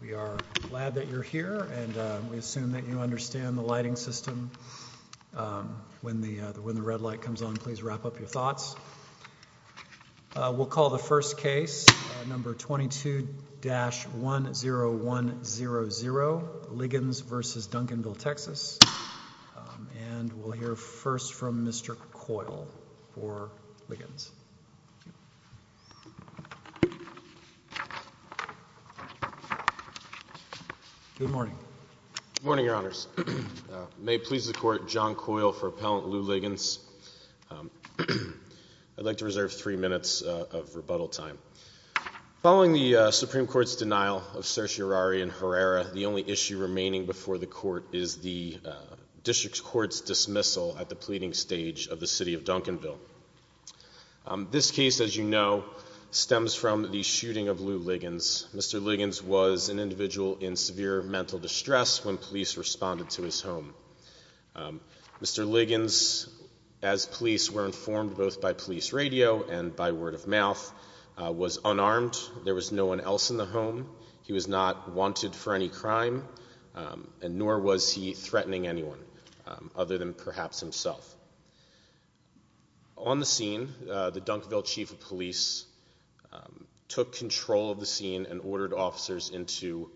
We are glad that you're here, and we assume that you understand the lighting system. When the red light comes on, please wrap up your thoughts. We'll call the first case, number 22-10100, Liggins v. Duncanville TX, and we'll hear first from Mr. Coyle for Liggins. Good morning, Your Honors. May it please the Court, John Coyle for Appellant Lou Liggins. I'd like to reserve three minutes of rebuttal time. Following the Supreme Court's denial of certiorari and Herrera, the only issue remaining before the Court is the District Court's dismissal at the pleading stage of the City of Duncanville. This case, as you know, stems from the shooting of Lou Liggins. Mr. Liggins was an individual in severe mental distress when police responded to his home. Mr. Liggins, as police were informed both by police radio and by word of mouth, was unarmed. There was no one else in the home. He was not wanted for any crime, nor was he threatening anyone other than perhaps himself. On the scene, the Duncanville Chief of Police took control of the scene and ordered officers into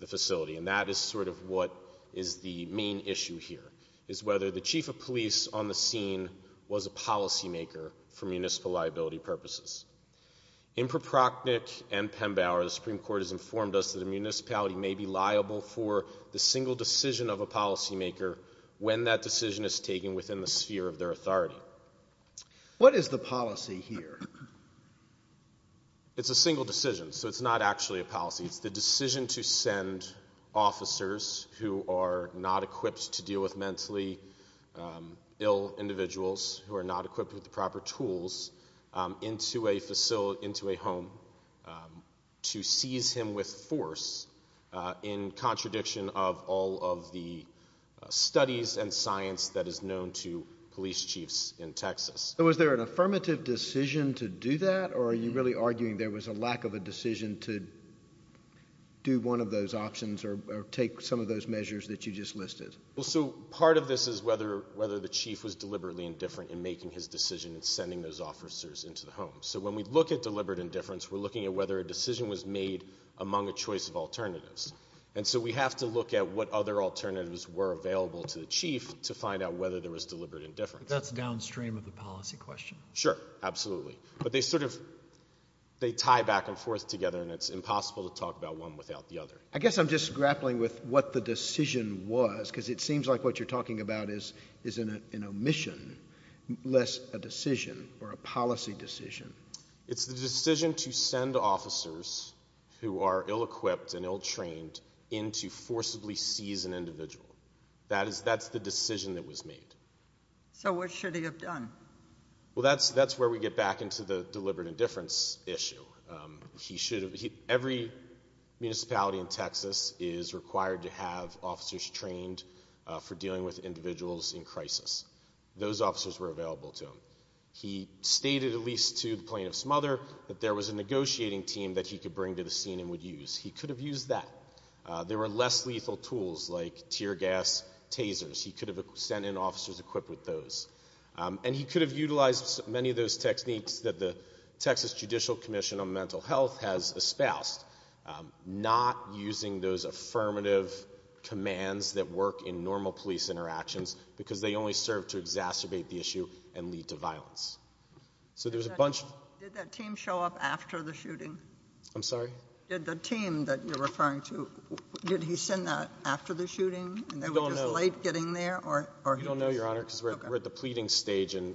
the facility, and that is sort of what is the main issue here, is whether the Chief of Police on the scene was a policymaker for municipal liability purposes. In Proprocknick and Pembauer, the Supreme Court has informed us that a municipality may be liable for the single decision of a policymaker when that decision is taken within the sphere of their authority. What is the policy here? It's a single decision, so it's not actually a policy. It's the decision to send officers who are not equipped to deal with mentally ill individuals, who are not equipped with the proper tools, into a facility, into a home, to seize him with force in contradiction of all of the studies and science that is known to police chiefs in Texas. Was there an affirmative decision to do that, or are you really arguing there was a lack of a decision to do one of those options or take some of those measures that you just listed? Well, so part of this is whether the chief was deliberately indifferent in making his decision in sending those officers into the home. So when we look at deliberate indifference, we're looking at whether a decision was made among a choice of alternatives. And so we have to look at what other alternatives were available to the chief to find out whether there was deliberate indifference. But that's downstream of the policy question. Sure, absolutely. But they sort of, they tie back and forth together, and it's impossible to talk about one without the other. I guess I'm just grappling with what the decision was, because it seems like what you're talking about is an omission, less a decision or a policy decision. It's the decision to send officers who are ill-equipped and ill-trained in to forcibly seize an individual. That's the decision that was made. So what should he have done? Well, that's where we get back into the deliberate indifference issue. He should have, every municipality in Texas is required to have officers trained for dealing with individuals in crisis. Those officers were available to him. He stated, at least to the plaintiff's mother, that there was a negotiating team that he could bring to the scene and would use. He could have used that. There were less lethal tools, like tear gas tasers. He could have sent in officers equipped with those. And he could have utilized many of those techniques that the Texas Judicial Commission on Mental Health has espoused, not using those affirmative commands that work in normal police interactions, because they only serve to exacerbate the issue and lead to violence. So there's a bunch of... Did that team show up after the shooting? I'm sorry? Did the team that you're referring to, did he send that after the shooting? You don't know. And they were just late getting there? Or he just... I don't know, Your Honor, because we're at the pleading stage and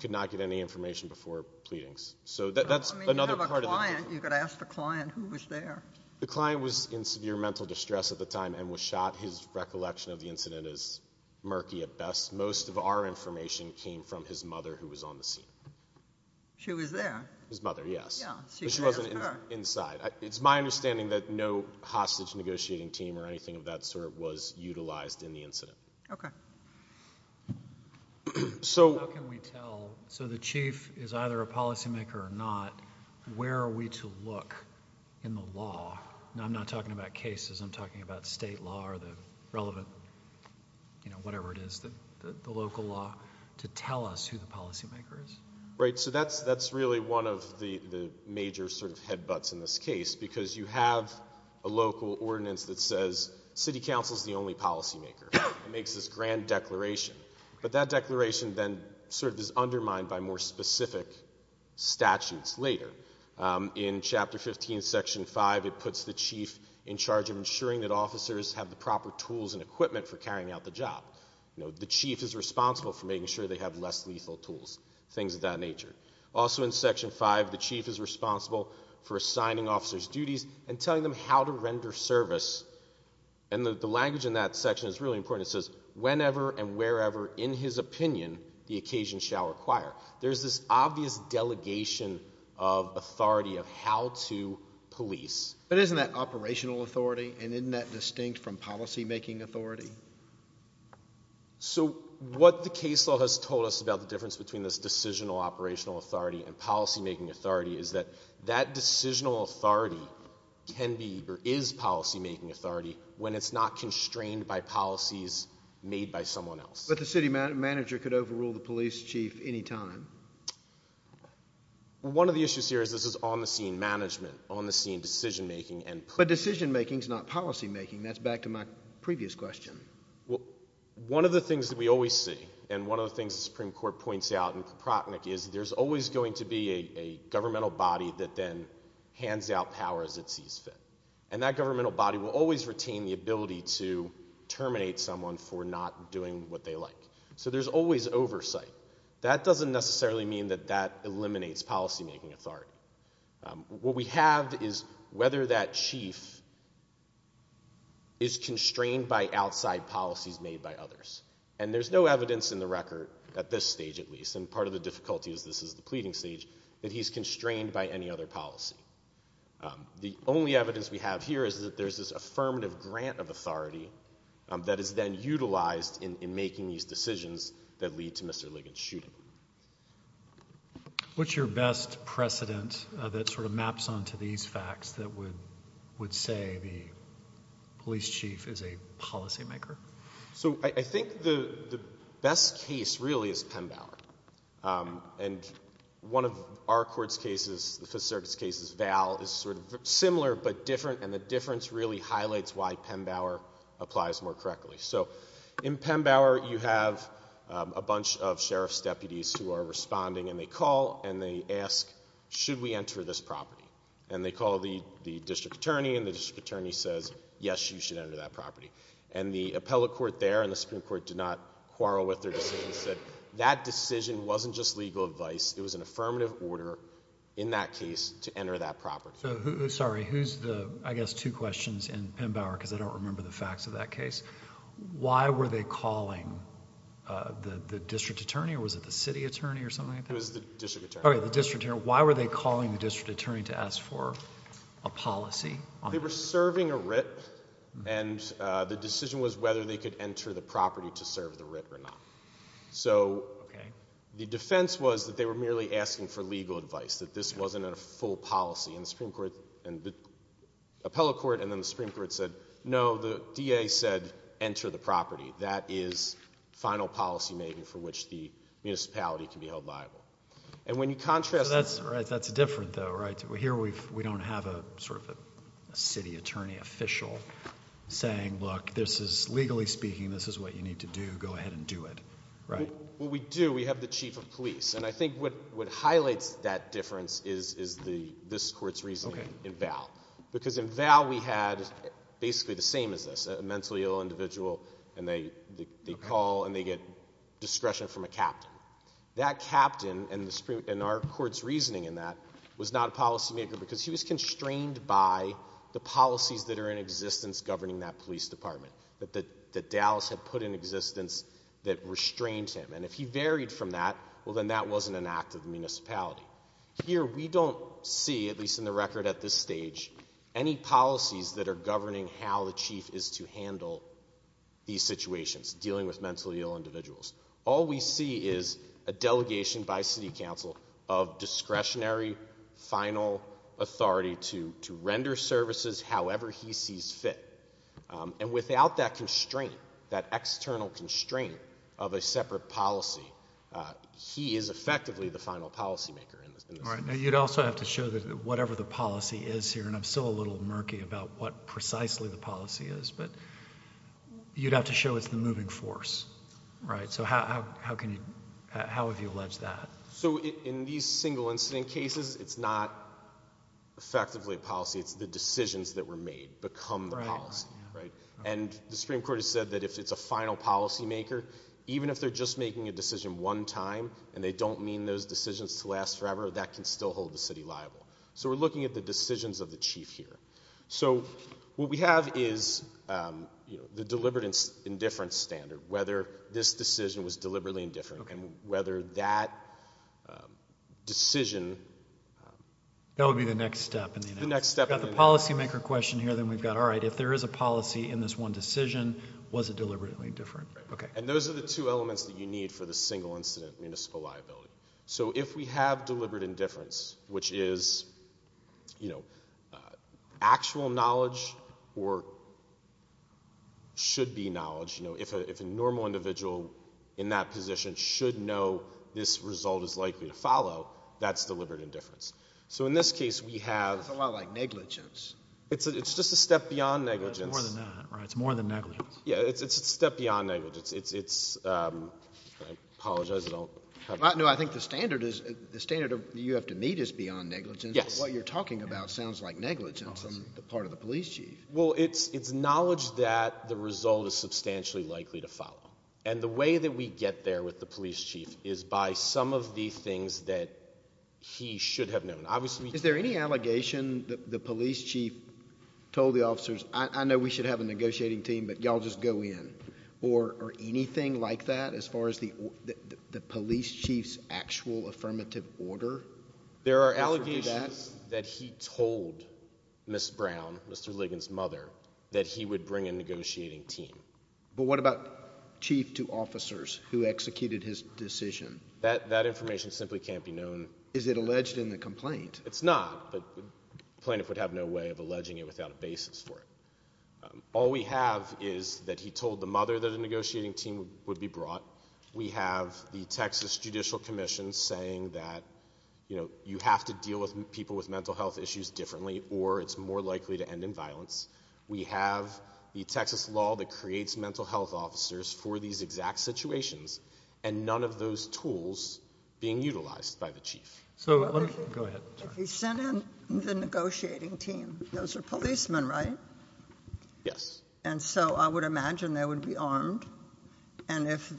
could not get any information before pleadings. So that's another part of the... I mean, you have a client. You could ask the client who was there. The client was in severe mental distress at the time and was shot. His recollection of the incident is murky at best. Most of our information came from his mother, who was on the scene. She was there? His mother, yes. Yeah, so you could ask her. But she wasn't inside. It's my understanding that no hostage negotiating team or anything of that sort was utilized in the incident. Okay. So... How can we tell, so the chief is either a policymaker or not, where are we to look in the law? Now, I'm not talking about cases. I'm talking about state law or the relevant, you know, whatever it is, the local law, to tell us who the policymaker is. Right. So that's really one of the major sort of headbutts in this case, because you have a makes this grand declaration. But that declaration then sort of is undermined by more specific statutes later. In Chapter 15, Section 5, it puts the chief in charge of ensuring that officers have the proper tools and equipment for carrying out the job. The chief is responsible for making sure they have less lethal tools, things of that nature. Also in Section 5, the chief is responsible for assigning officers duties and telling them how to render service. And the language in that section is really important. It says, whenever and wherever, in his opinion, the occasion shall require. There's this obvious delegation of authority of how to police. But isn't that operational authority, and isn't that distinct from policymaking authority? So what the case law has told us about the difference between this decisional operational authority and policymaking authority is that that decisional authority can be, or is, policymaking authority when it's not constrained by policies made by someone else. But the city manager could overrule the police chief any time. One of the issues here is this is on-the-scene management, on-the-scene decision-making. But decision-making's not policymaking. That's back to my previous question. One of the things that we always see, and one of the things the Supreme Court points out in Procnak is there's always going to be a governmental body that then hands out power as it sees fit. And that governmental body will always retain the ability to terminate someone for not doing what they like. So there's always oversight. That doesn't necessarily mean that that eliminates policymaking authority. What we have is whether that chief is constrained by outside policies made by others. And there's no evidence in the record, at this stage at least, and part of the difficulty is this is the pleading stage, that he's constrained by any other policy. The only evidence we have here is that there's this affirmative grant of authority that is then utilized in making these decisions that lead to Mr. Ligon's shooting. What's your best precedent that sort of maps onto these facts that would say the police chief is a policymaker? So I think the best case really is Penn Bower. And one of our court's cases, the Fifth Circuit's case, is Val, is sort of similar but different, and the difference really highlights why Penn Bower applies more correctly. So in Penn Bower, you have a bunch of sheriff's deputies who are responding, and they call and they ask, should we enter this property? And they call the district attorney, and the district attorney says, yes, you should enter that property. And the appellate court there and the Supreme Court did not quarrel with their decisions. That decision wasn't just legal advice, it was an affirmative order in that case to enter that property. Sorry, who's the, I guess, two questions in Penn Bower, because I don't remember the facts of that case. Why were they calling the district attorney, or was it the city attorney or something like that? It was the district attorney. Okay, the district attorney. Why were they calling the district attorney to ask for a policy? They were serving a writ, and the decision was whether they could enter the property to serve the writ or not. So the defense was that they were merely asking for legal advice, that this wasn't a full policy. And the Supreme Court, and the appellate court and then the Supreme Court said, no, the DA said, enter the property. That is final policy making for which the municipality can be held liable. And when you contrast- That's right, that's different though, right? Here we don't have a sort of a city attorney official saying, look, this is, legally speaking, this is what you need to do. Go ahead and do it. Right? Well, we do. We have the chief of police. And I think what highlights that difference is this court's reasoning in Val. Because in Val, we had basically the same as this, a mentally ill individual, and they call, and they get discretion from a captain. That captain, and our court's reasoning in that, was not a policy maker because he was constrained by the policies that are in existence governing that police department. That Dallas had put in existence that restrained him. And if he varied from that, well then that wasn't an act of the municipality. Here we don't see, at least in the record at this stage, any policies that are governing how the chief is to handle these situations, dealing with mentally ill individuals. All we see is a delegation by city council of discretionary, final authority to render services however he sees fit. And without that constraint, that external constraint of a separate policy, he is effectively the final policy maker in this. All right. Now you'd also have to show that whatever the policy is here, and I'm still a little murky about what precisely the policy is, but you'd have to show it's the moving force. Right? So how have you alleged that? So in these single incident cases, it's not effectively a policy. It's the decisions that were made become the policy. And the Supreme Court has said that if it's a final policy maker, even if they're just making a decision one time and they don't mean those decisions to last forever, that can still hold the city liable. So we're looking at the decisions of the chief here. So what we have is the deliberate indifference standard. Whether this decision was deliberately indifferent and whether that decision- That would be the next step. We've got the policy maker question here, then we've got, all right, if there is a policy in this one decision, was it deliberately indifferent? And those are the two elements that you need for the single incident municipal liability. So if we have deliberate indifference, which is actual knowledge or should be knowledge, if a normal individual in that position should know this result is likely to follow, that's deliberate indifference. So in this case, we have- It's a lot like negligence. It's just a step beyond negligence. It's more than that, right? It's more than negligence. Yeah, it's a step beyond negligence. It's, I apologize, I don't have- No, I think the standard you have to meet is beyond negligence, but what you're talking about sounds like negligence on the part of the police chief. Well, it's knowledge that the result is substantially likely to follow. And the way that we get there with the police chief is by some of the things that he should have known. Obviously- Is there any allegation that the police chief told the officers, I know we should have a negotiating team, but y'all just go in, or anything like that as far as the police chief's actual affirmative order? There are allegations that he told Ms. Brown, Mr. Ligon's mother, that he would bring a negotiating team. But what about chief to officers who executed his decision? That information simply can't be known. Is it alleged in the complaint? It's not, but plaintiff would have no way of alleging it without a basis for it. All we have is that he told the mother that a negotiating team would be brought. We have the Texas Judicial Commission saying that you have to deal with people with mental health issues differently, or it's more likely to end in violence. We have the Texas law that creates mental health officers for these exact situations, and none of those tools being utilized by the chief. So what if- Go ahead. If he sent in the negotiating team, those are policemen, right? Yes. And so I would imagine they would be armed, and if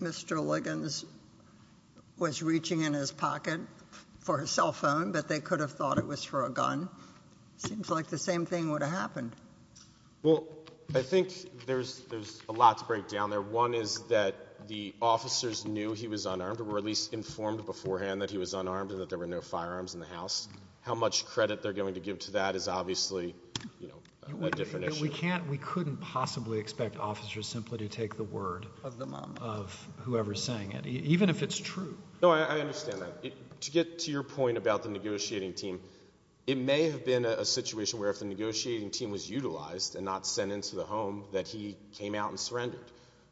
Mr. Ligon's was reaching in his pocket for his cell phone, but they could have thought it was for a gun, seems like the same thing would have happened. Well, I think there's a lot to break down there. One is that the officers knew he was unarmed, or were at least informed beforehand that he was unarmed and that there were no firearms in the house. How much credit they're going to give to that is obviously a different issue. We couldn't possibly expect officers simply to take the word of whoever's saying it, even if it's true. No, I understand that. To get to your point about the negotiating team, it may have been a situation where if the negotiating team was utilized and not sent into the home, that he came out and surrendered.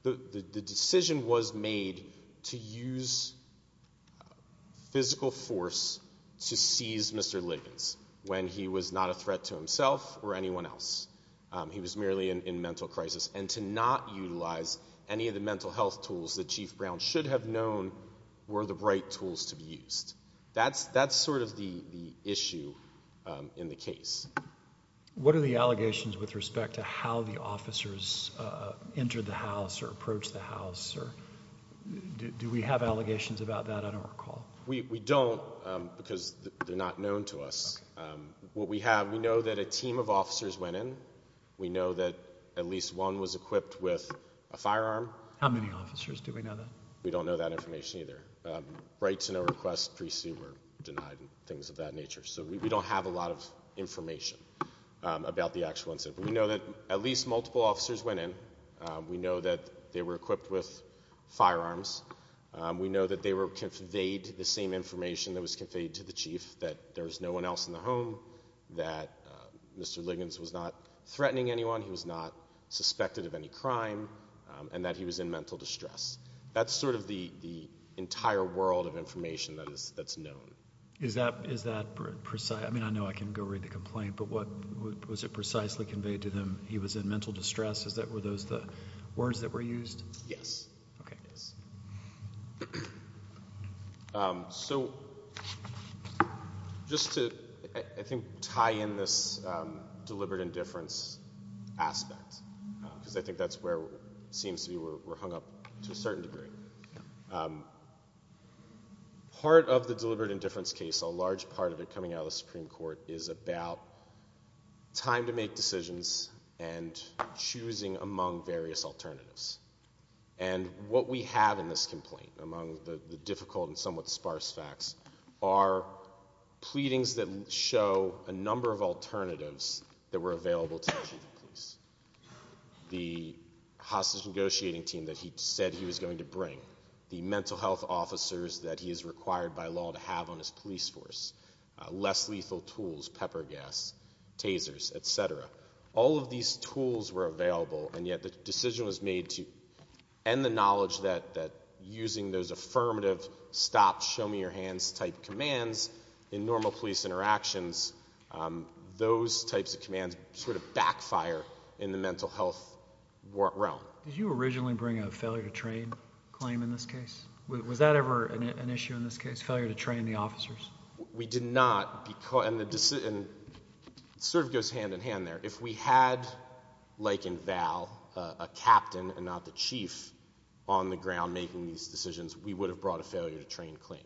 The decision was made to use physical force to seize Mr. Ligon's when he was not a threat to himself or anyone else. He was merely in mental crisis, and to not utilize any of the mental health tools that Chief Brown should have known were the right tools to be used. That's sort of the issue in the case. What are the allegations with respect to how the officers entered the house or approached the house? Do we have allegations about that? I don't recall. We don't, because they're not known to us. What we have, we know that a team of officers went in. We know that at least one was equipped with a firearm. How many officers? Do we know that? We don't know that information either. Rights and requests pre-suit were denied and things of that nature. So we don't have a lot of information about the actual incident, but we know that at least multiple officers went in. We know that they were equipped with firearms. We know that they were conveyed the same information that was conveyed to the chief, that there was no one else in the home, that Mr. Ligon's was not threatening anyone, he was not suspected of any crime, and that he was in mental distress. That's sort of the entire world of information that's known. Is that precise? I mean, I know I can go read the complaint, but was it precisely conveyed to them he was in mental distress? Were those the words that were used? Yes. Okay. Yes. So just to, I think, tie in this deliberate indifference aspect, because I think that's where it seems to be we're hung up to a certain degree. Part of the deliberate indifference case, a large part of it coming out of the Supreme Court, is about time to make decisions and choosing among various alternatives. And what we have in this complaint, among the difficult and somewhat sparse facts, are pleadings that show a number of alternatives that were available to the chief of police. The hostage negotiating team that he said he was going to bring, the mental health officers that he is required by law to have on his police force, less lethal tools, pepper gas, tasers, et cetera. All of these tools were available, and yet the decision was made to end the knowledge that using those affirmative, stop, show me your hands type commands in normal police interactions, those types of commands sort of backfire in the mental health realm. Did you originally bring a failure to train claim in this case? Was that ever an issue in this case, failure to train the officers? We did not, and it sort of goes hand in hand there. If we had, like in Val, a captain and not the chief on the ground making these decisions, we would have brought a failure to train claim,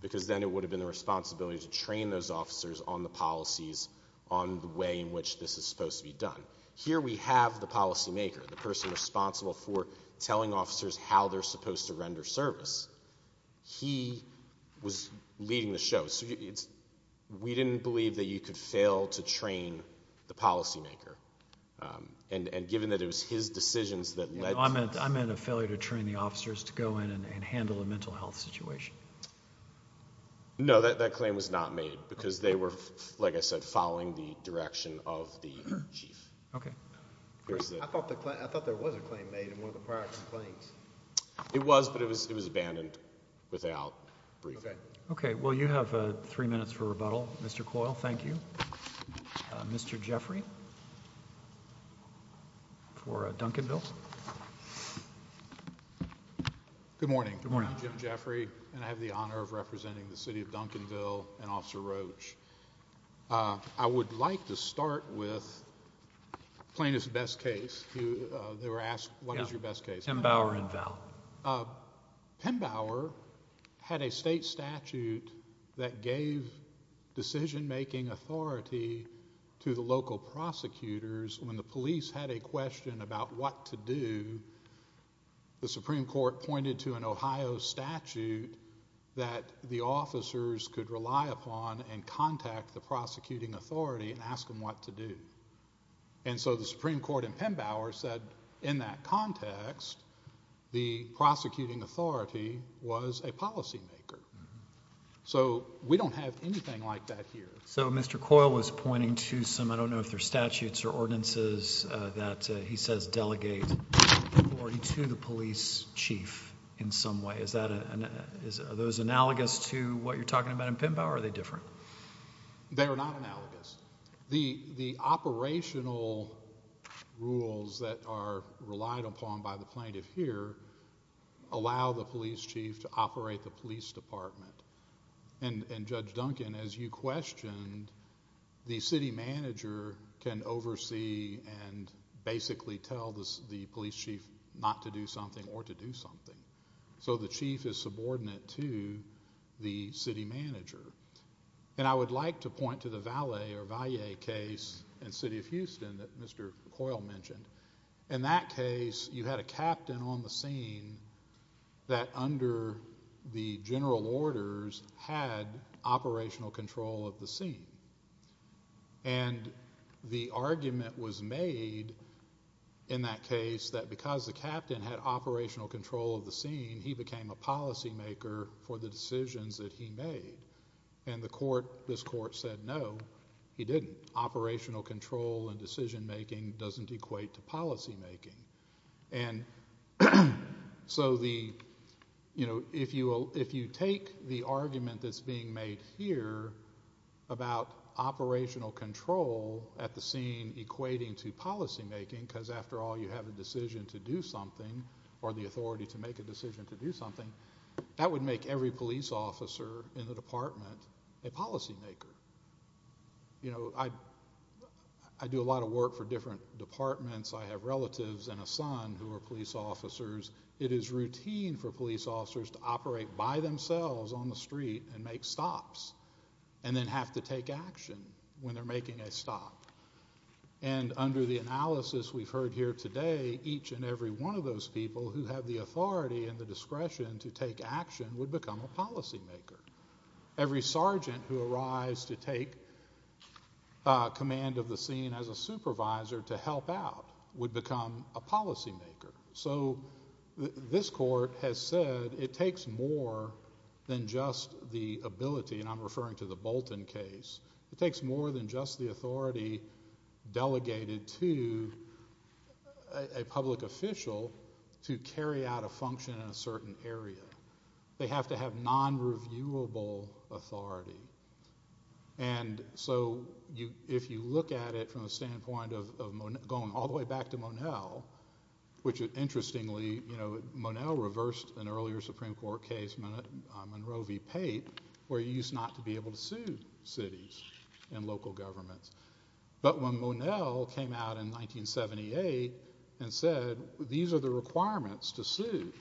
because then it would have been the responsibility to train those officers on the policies on the way in which this is supposed to be done. Here we have the policymaker, the person responsible for telling officers how they're supposed to render service. He was leading the show. We didn't believe that you could fail to train the policymaker, and given that it was his decisions that led to... I meant a failure to train the officers to go in and handle a mental health situation. No, that claim was not made, because they were, like I said, following the direction of the chief. Okay. I thought there was a claim made in one of the prior complaints. It was, but it was abandoned without briefing. Okay. Well, you have three minutes for rebuttal, Mr. Coyle. Thank you. Mr. Jeffrey for Duncanville. Good morning. I'm Jim Jeffrey, and I have the honor of representing the city of Duncanville and Officer Roach. I would like to start with plaintiff's best case. They were asked, what is your best case? Pembauer and Valle. Pembauer had a state statute that gave decision-making authority to the local prosecutors when the police had a question about what to do. The Supreme Court pointed to an Ohio statute that the officers could rely upon and contact the prosecuting authority and ask them what to do. And so the Supreme Court in Pembauer said, in that context, the prosecuting authority was a policymaker. So we don't have anything like that here. So Mr. Coyle was pointing to some, I don't know if they're statutes or ordinances, that he says delegate authority to the police chief in some way. Is that, are those analogous to what you're talking about in Pembauer, or are they different? They are not analogous. The operational rules that are relied upon by the plaintiff here allow the police chief to operate the police department. And Judge Duncan, as you questioned, the city manager can oversee and basically tell the police chief not to do something or to do something. So the chief is subordinate to the city manager. And I would like to point to the Valle case in the city of Houston that Mr. Coyle mentioned. In that case, you had a captain on the scene that, under the general orders, had operational control of the scene. And the argument was made in that case that because the captain had operational control of the scene, he became a policymaker for the decisions that he made. And the court, this court, said no, he didn't. Operational control and decision-making doesn't equate to policymaking. And so the, you know, if you take the argument that's being made here about operational control at the scene equating to policymaking, because after all, you have a decision to do something or the authority to make a decision to do something, that would make every police officer in the department a policymaker. You know, I do a lot of work for different departments. I have relatives and a son who are police officers. It is routine for police officers to operate by themselves on the street and make stops and then have to take action when they're making a stop. And under the analysis we've heard here today, each and every one of those people who have the authority and the discretion to take action would become a policymaker. Every sergeant who arrives to take command of the scene as a supervisor to help out would become a policymaker. So this court has said it takes more than just the ability, and I'm referring to the Bolton case, it takes more than just the authority delegated to a public official to carry out a function in a certain area. They have to have non-reviewable authority. And so if you look at it from the standpoint of going all the way back to Monell, which interestingly, you know, Monell reversed an earlier Supreme Court case, Monroe v. Pate, where he used not to be able to sue cities and local governments. But when Monell came out in 1978 and said, these are the requirements to sue.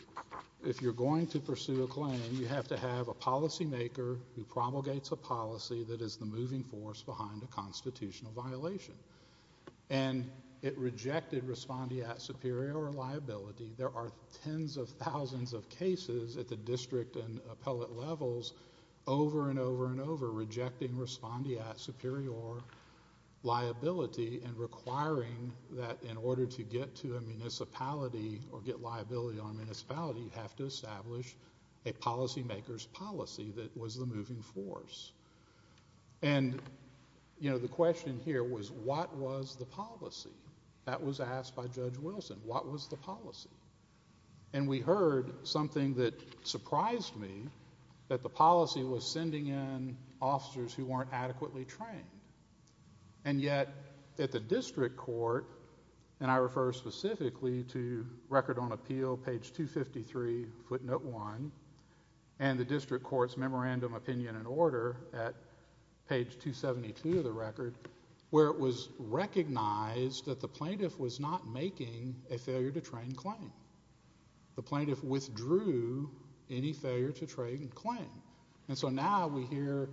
If you're going to pursue a claim, you have to have a policymaker who promulgates a policy that is the moving force behind a constitutional violation. And it rejected respondeat superior liability. There are tens of thousands of cases at the district and appellate levels over and over and over rejecting respondeat superior liability and requiring that in order to get to a municipality or get liability on a municipality, you have to establish a policymaker's policy that was the moving force. And, you know, the question here was, what was the policy? That was asked by Judge Wilson. What was the policy? And we heard something that surprised me, that the policy was sending in officers who weren't adequately trained. And yet, at the district court, and I refer specifically to record on appeal, page 253, footnote 1, and the district court's memorandum opinion and order at page 272 of the record, where it was recognized that the plaintiff was not making a failure to train claim. The plaintiff withdrew any failure to train claim. And so now we hear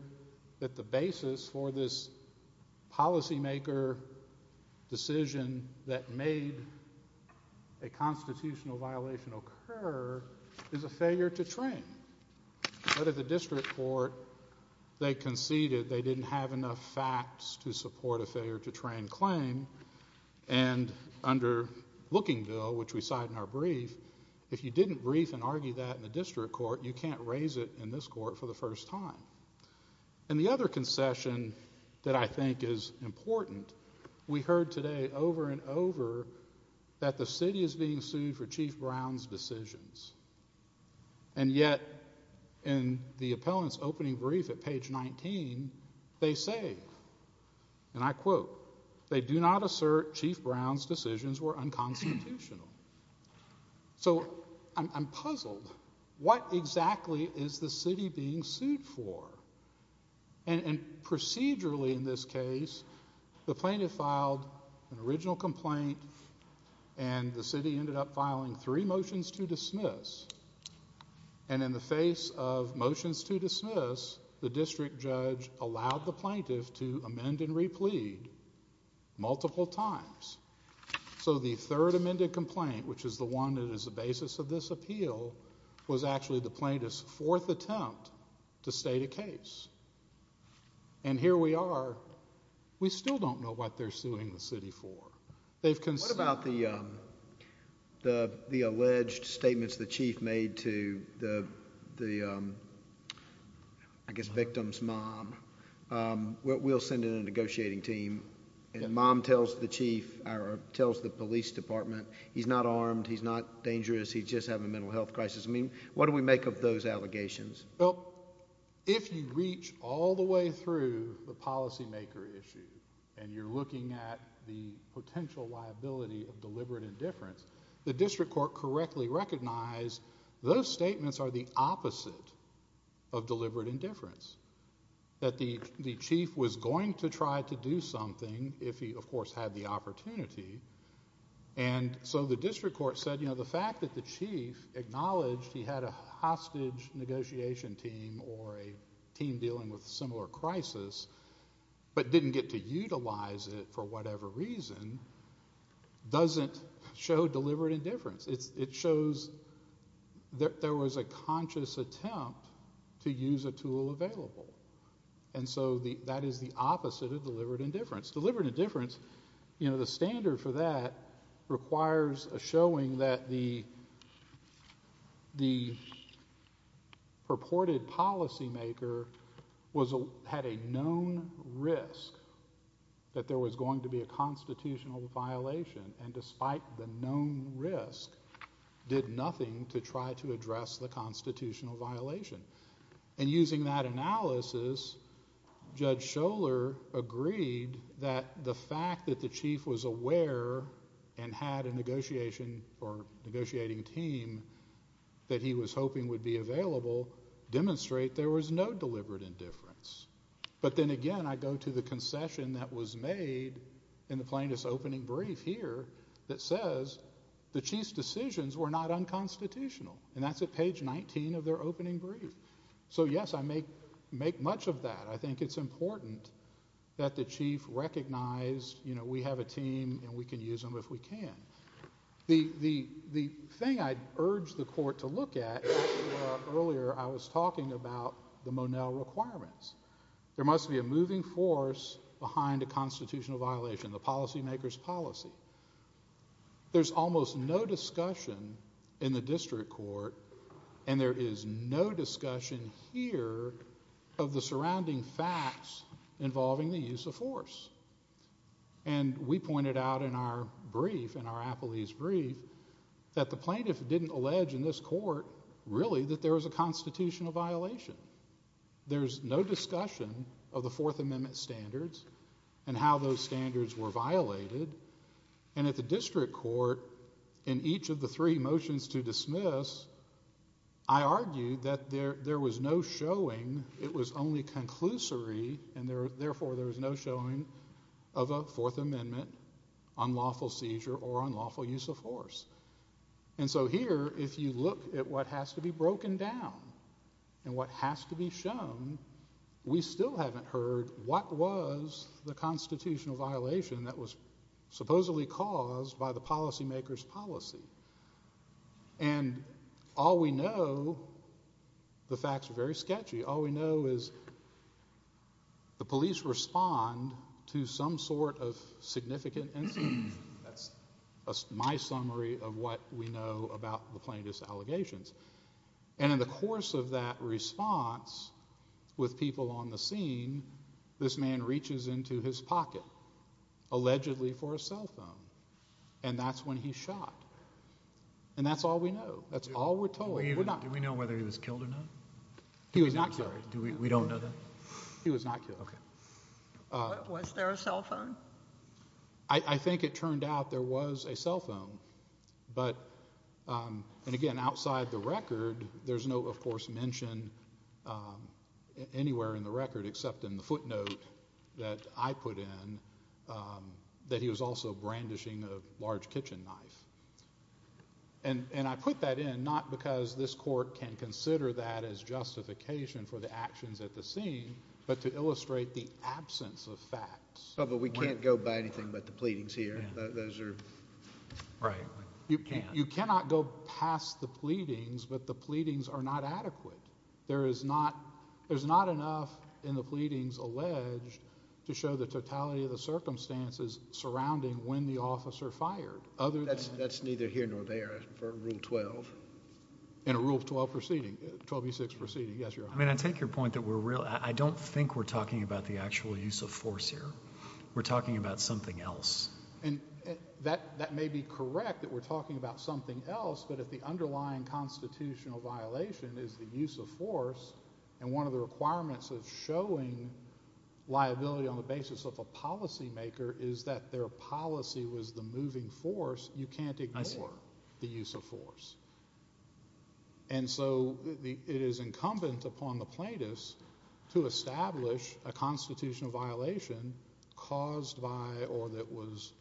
that the basis for this policymaker decision that made a constitutional violation occur is a failure to train. But at the district court, they conceded they didn't have enough facts to support a failure to train claim. And under Lookingville, which we cite in our brief, if you didn't brief and argue that in the district court, you can't raise it in this court for the first time. And the other concession that I think is important, we heard today over and over that the city is being sued for Chief Brown's decisions. And yet, in the appellant's opening brief at page 19, they say, and I quote, they do not assert Chief Brown's decisions were unconstitutional. So I'm puzzled. What exactly is the city being sued for? And procedurally in this case, the plaintiff filed an original complaint and the city ended up filing three motions to dismiss. And in the face of motions to dismiss, the district judge allowed the plaintiff to amend and replead multiple times. So the third amended complaint, which is the one that is the basis of this appeal, was actually the plaintiff's fourth attempt to state a case. And here we are. We still don't know what they're suing the city for. They've conceded. What about the alleged statements the chief made to the, I guess, victim's mom? We'll send in a negotiating team. And mom tells the chief, or tells the police department, he's not armed, he's not dangerous, he's just having a mental health crisis. I mean, what do we make of those allegations? Well, if you reach all the way through the policymaker issue and you're looking at the potential liability of deliberate indifference, the district court correctly recognized those statements are the opposite of deliberate indifference, that the chief was going to try to do something if he, of course, had the opportunity. And so the district court said, you know, the fact that the chief acknowledged he had a hostage negotiation team or a team dealing with a similar crisis but didn't get to utilize it for whatever reason doesn't show deliberate indifference. It shows that there was a conscious attempt to use a tool available. And so that is the opposite of deliberate indifference. Deliberate indifference, you know, the standard for that requires a showing that the purported policymaker had a known risk that there was going to be a constitutional violation and despite the known risk did nothing to try to address the constitutional violation. And using that analysis, Judge Scholar agreed that the fact that the chief was aware and had a negotiation or negotiating team that he was hoping would be available, demonstrate there was no deliberate indifference. But then again, I go to the concession that was made in the plaintiff's opening brief here that says the chief's decisions were not unconstitutional. And that's at page 19 of their opening brief. So yes, I make much of that. I think it's important that the chief recognized, you know, we have a team and we can use them if we can. The thing I urge the court to look at, earlier I was talking about the Monel requirements. There must be a moving force behind a constitutional violation, the policymaker's policy. There's almost no discussion in the district court and there is no discussion here of the surrounding facts involving the use of force. And we pointed out in our brief, in our appellee's brief, that the plaintiff didn't allege in this court really that there was a constitutional violation. There's no discussion of the Fourth Amendment standards and how those standards were violated. And at the district court, in each of the three motions to dismiss, I argued that there was no showing, it was only conclusory and therefore there was no showing of a Fourth Amendment, unlawful seizure or unlawful use of force. And so here, if you look at what has to be broken down and what has to be shown, we still haven't heard what was the constitutional violation that was supposedly caused by the policymaker's policy. And all we know, the facts are very sketchy, all we know is the police respond to some sort of significant incident, that's my summary of what we know about the plaintiff's allegations. And in the course of that response, with people on the scene, this man reaches into his pocket, allegedly for a cell phone, and that's when he shot. And that's all we know, that's all we're told. We're not. Do we know whether he was killed or not? He was not killed. Do we, we don't know that? He was not killed. Okay. Was there a cell phone? I think it turned out there was a cell phone. But, and again, outside the record, there's no, of course, mention anywhere in the record, except in the footnote that I put in, that he was also brandishing a large kitchen knife. And I put that in, not because this court can consider that as justification for the actions at the scene, but to illustrate the absence of facts. But we can't go by anything but the pleadings here. Those are. Right. You can't. You cannot go past the pleadings, but the pleadings are not adequate. There is not, there's not enough in the pleadings alleged to show the totality of the circumstances surrounding when the officer fired. Other than. That's neither here nor there for Rule 12. In a Rule 12 proceeding, 12E6 proceeding, yes, Your Honor. I mean, I take your point that we're, I don't think we're talking about the actual use of force here. We're talking about something else. And that, that may be correct that we're talking about something else, but if the underlying constitutional violation is the use of force, and one of the requirements of showing liability on the basis of a policymaker is that their policy was the moving force, you can't ignore the use of force. And so the, it is incumbent upon the plaintiffs to establish a constitutional violation caused by or that was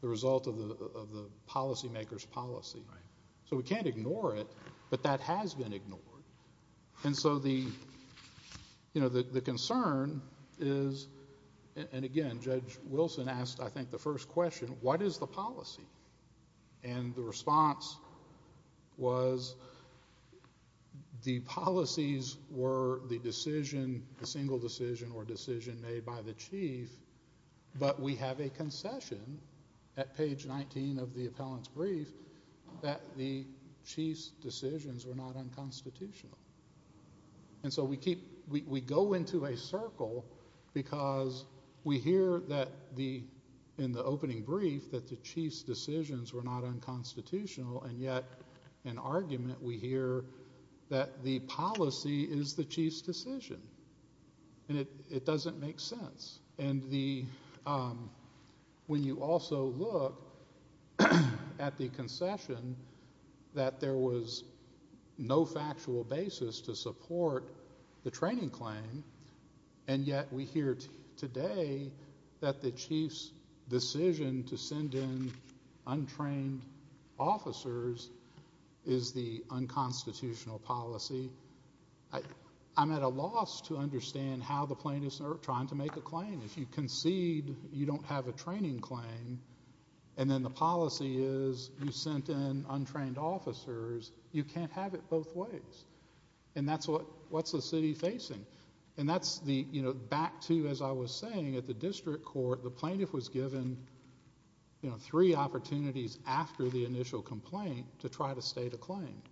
the result of the, of the policymaker's policy. Right. So we can't ignore it, but that has been ignored. And so the, you know, the, the concern is, and again, Judge Wilson asked, I think, the first question, what is the policy? And the response was the policies were the decision, the single decision or decision made by the chief, but we have a concession at page 19 of the appellant's brief that the chief's decisions were not unconstitutional. And so we keep, we, we go into a circle because we hear that the, in the opening brief, that the chief's decisions were not unconstitutional, and yet, in argument, we hear that the policy is the chief's decision. And it, it doesn't make sense. And the, when you also look at the concession, that there was no factual basis to support the training claim, and yet we hear today that the chief's decision to send in untrained officers is the unconstitutional policy. I, I'm at a loss to understand how the plaintiffs are trying to make a claim. If you concede you don't have a training claim, and then the policy is you sent in untrained officers, you can't have it both ways. And that's what, what's the city facing? And that's the, you know, back to, as I was saying, at the district court, the plaintiff was given, you know, three opportunities after the initial complaint to try to state a claim.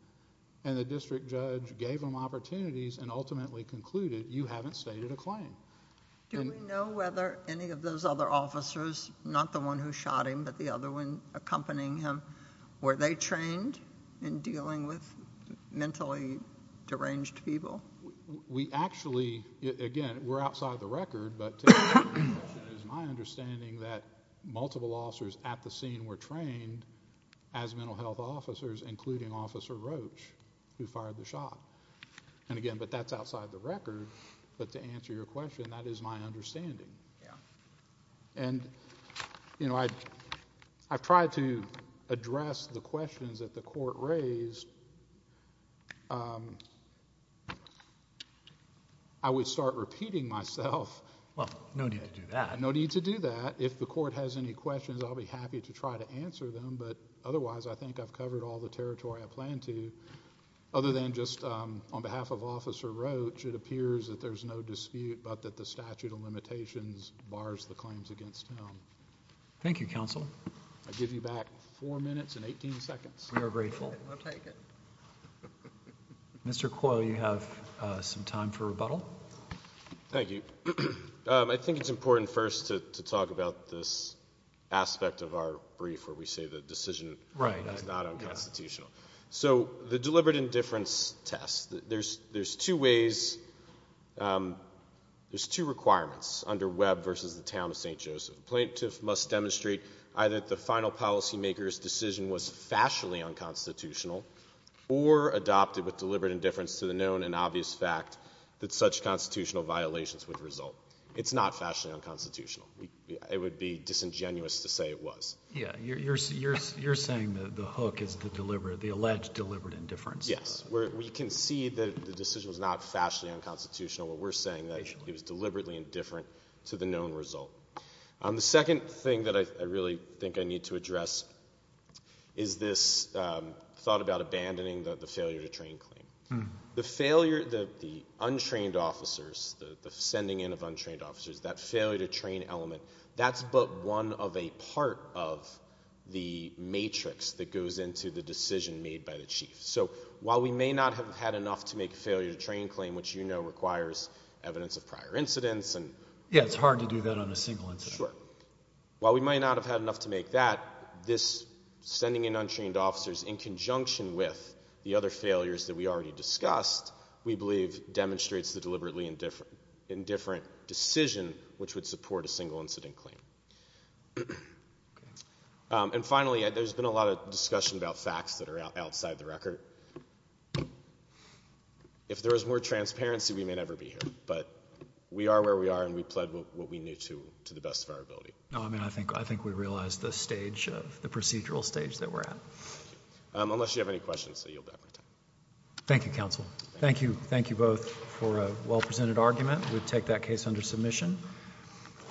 And the district judge gave them opportunities and ultimately concluded you haven't stated a claim. And. Do we know whether any of those other officers, not the one who shot him, but the other one accompanying him, were they trained in dealing with mentally deranged people? We actually, again, we're outside the record, but to my understanding, that multiple officers at the scene were trained as mental health officers, including Officer Roach, who fired the shot. And again, but that's outside the record. But to answer your question, that is my understanding. Yeah. And, you know, I, I've tried to address the questions that the court raised. I would start repeating myself. Well, no need to do that. No need to do that. If the court has any questions, I'll be happy to try to answer them. But otherwise, I think I've covered all the territory I plan to. Other than just on behalf of Officer Roach, it appears that there's no dispute but that the statute of limitations bars the claims against him. Thank you, counsel. I give you back four minutes and 18 seconds. We are grateful. I'll take it. Mr. Coyle, you have some time for rebuttal. Thank you. I think it's important first to talk about this aspect of our brief where we say the decision is not unconstitutional. So the deliberate indifference test, there's two ways, there's two requirements under Webb versus the town of St. Joseph. The plaintiff must demonstrate either that the final policymaker's decision was fashionably unconstitutional or adopted with deliberate indifference to the known and obvious fact that such constitutional violations would result. It's not fashionably unconstitutional. It would be disingenuous to say it was. Yeah, you're saying that the hook is the alleged deliberate indifference. Yes, we can see that the decision was not fashionably unconstitutional, but we're saying that it was deliberately indifferent to the known result. The second thing that I really think I need to address is this thought about abandoning the failure to train claim. The failure, the untrained officers, the sending in of untrained officers, that failure to train element, that's but one of a part of the matrix that goes into the decision made by the chief. So while we may not have had enough to make a failure to train claim, which you know requires evidence of prior incidents and- Yeah, it's hard to do that on a single incident. While we might not have had enough to make that, this sending in untrained officers in conjunction with the other failures that we already discussed, we believe, demonstrates the deliberately indifferent decision which would support a single incident claim. And finally, there's been a lot of discussion about facts that are outside the record. If there was more transparency, we may never be here, but we are where we are and we pled what we need to to the best of our ability. I mean, I think we realize the stage of, the procedural stage that we're at. Unless you have any questions, you'll have more time. Thank you, counsel. Thank you. Thank you both for a well-presented argument. We'll take that case under submission.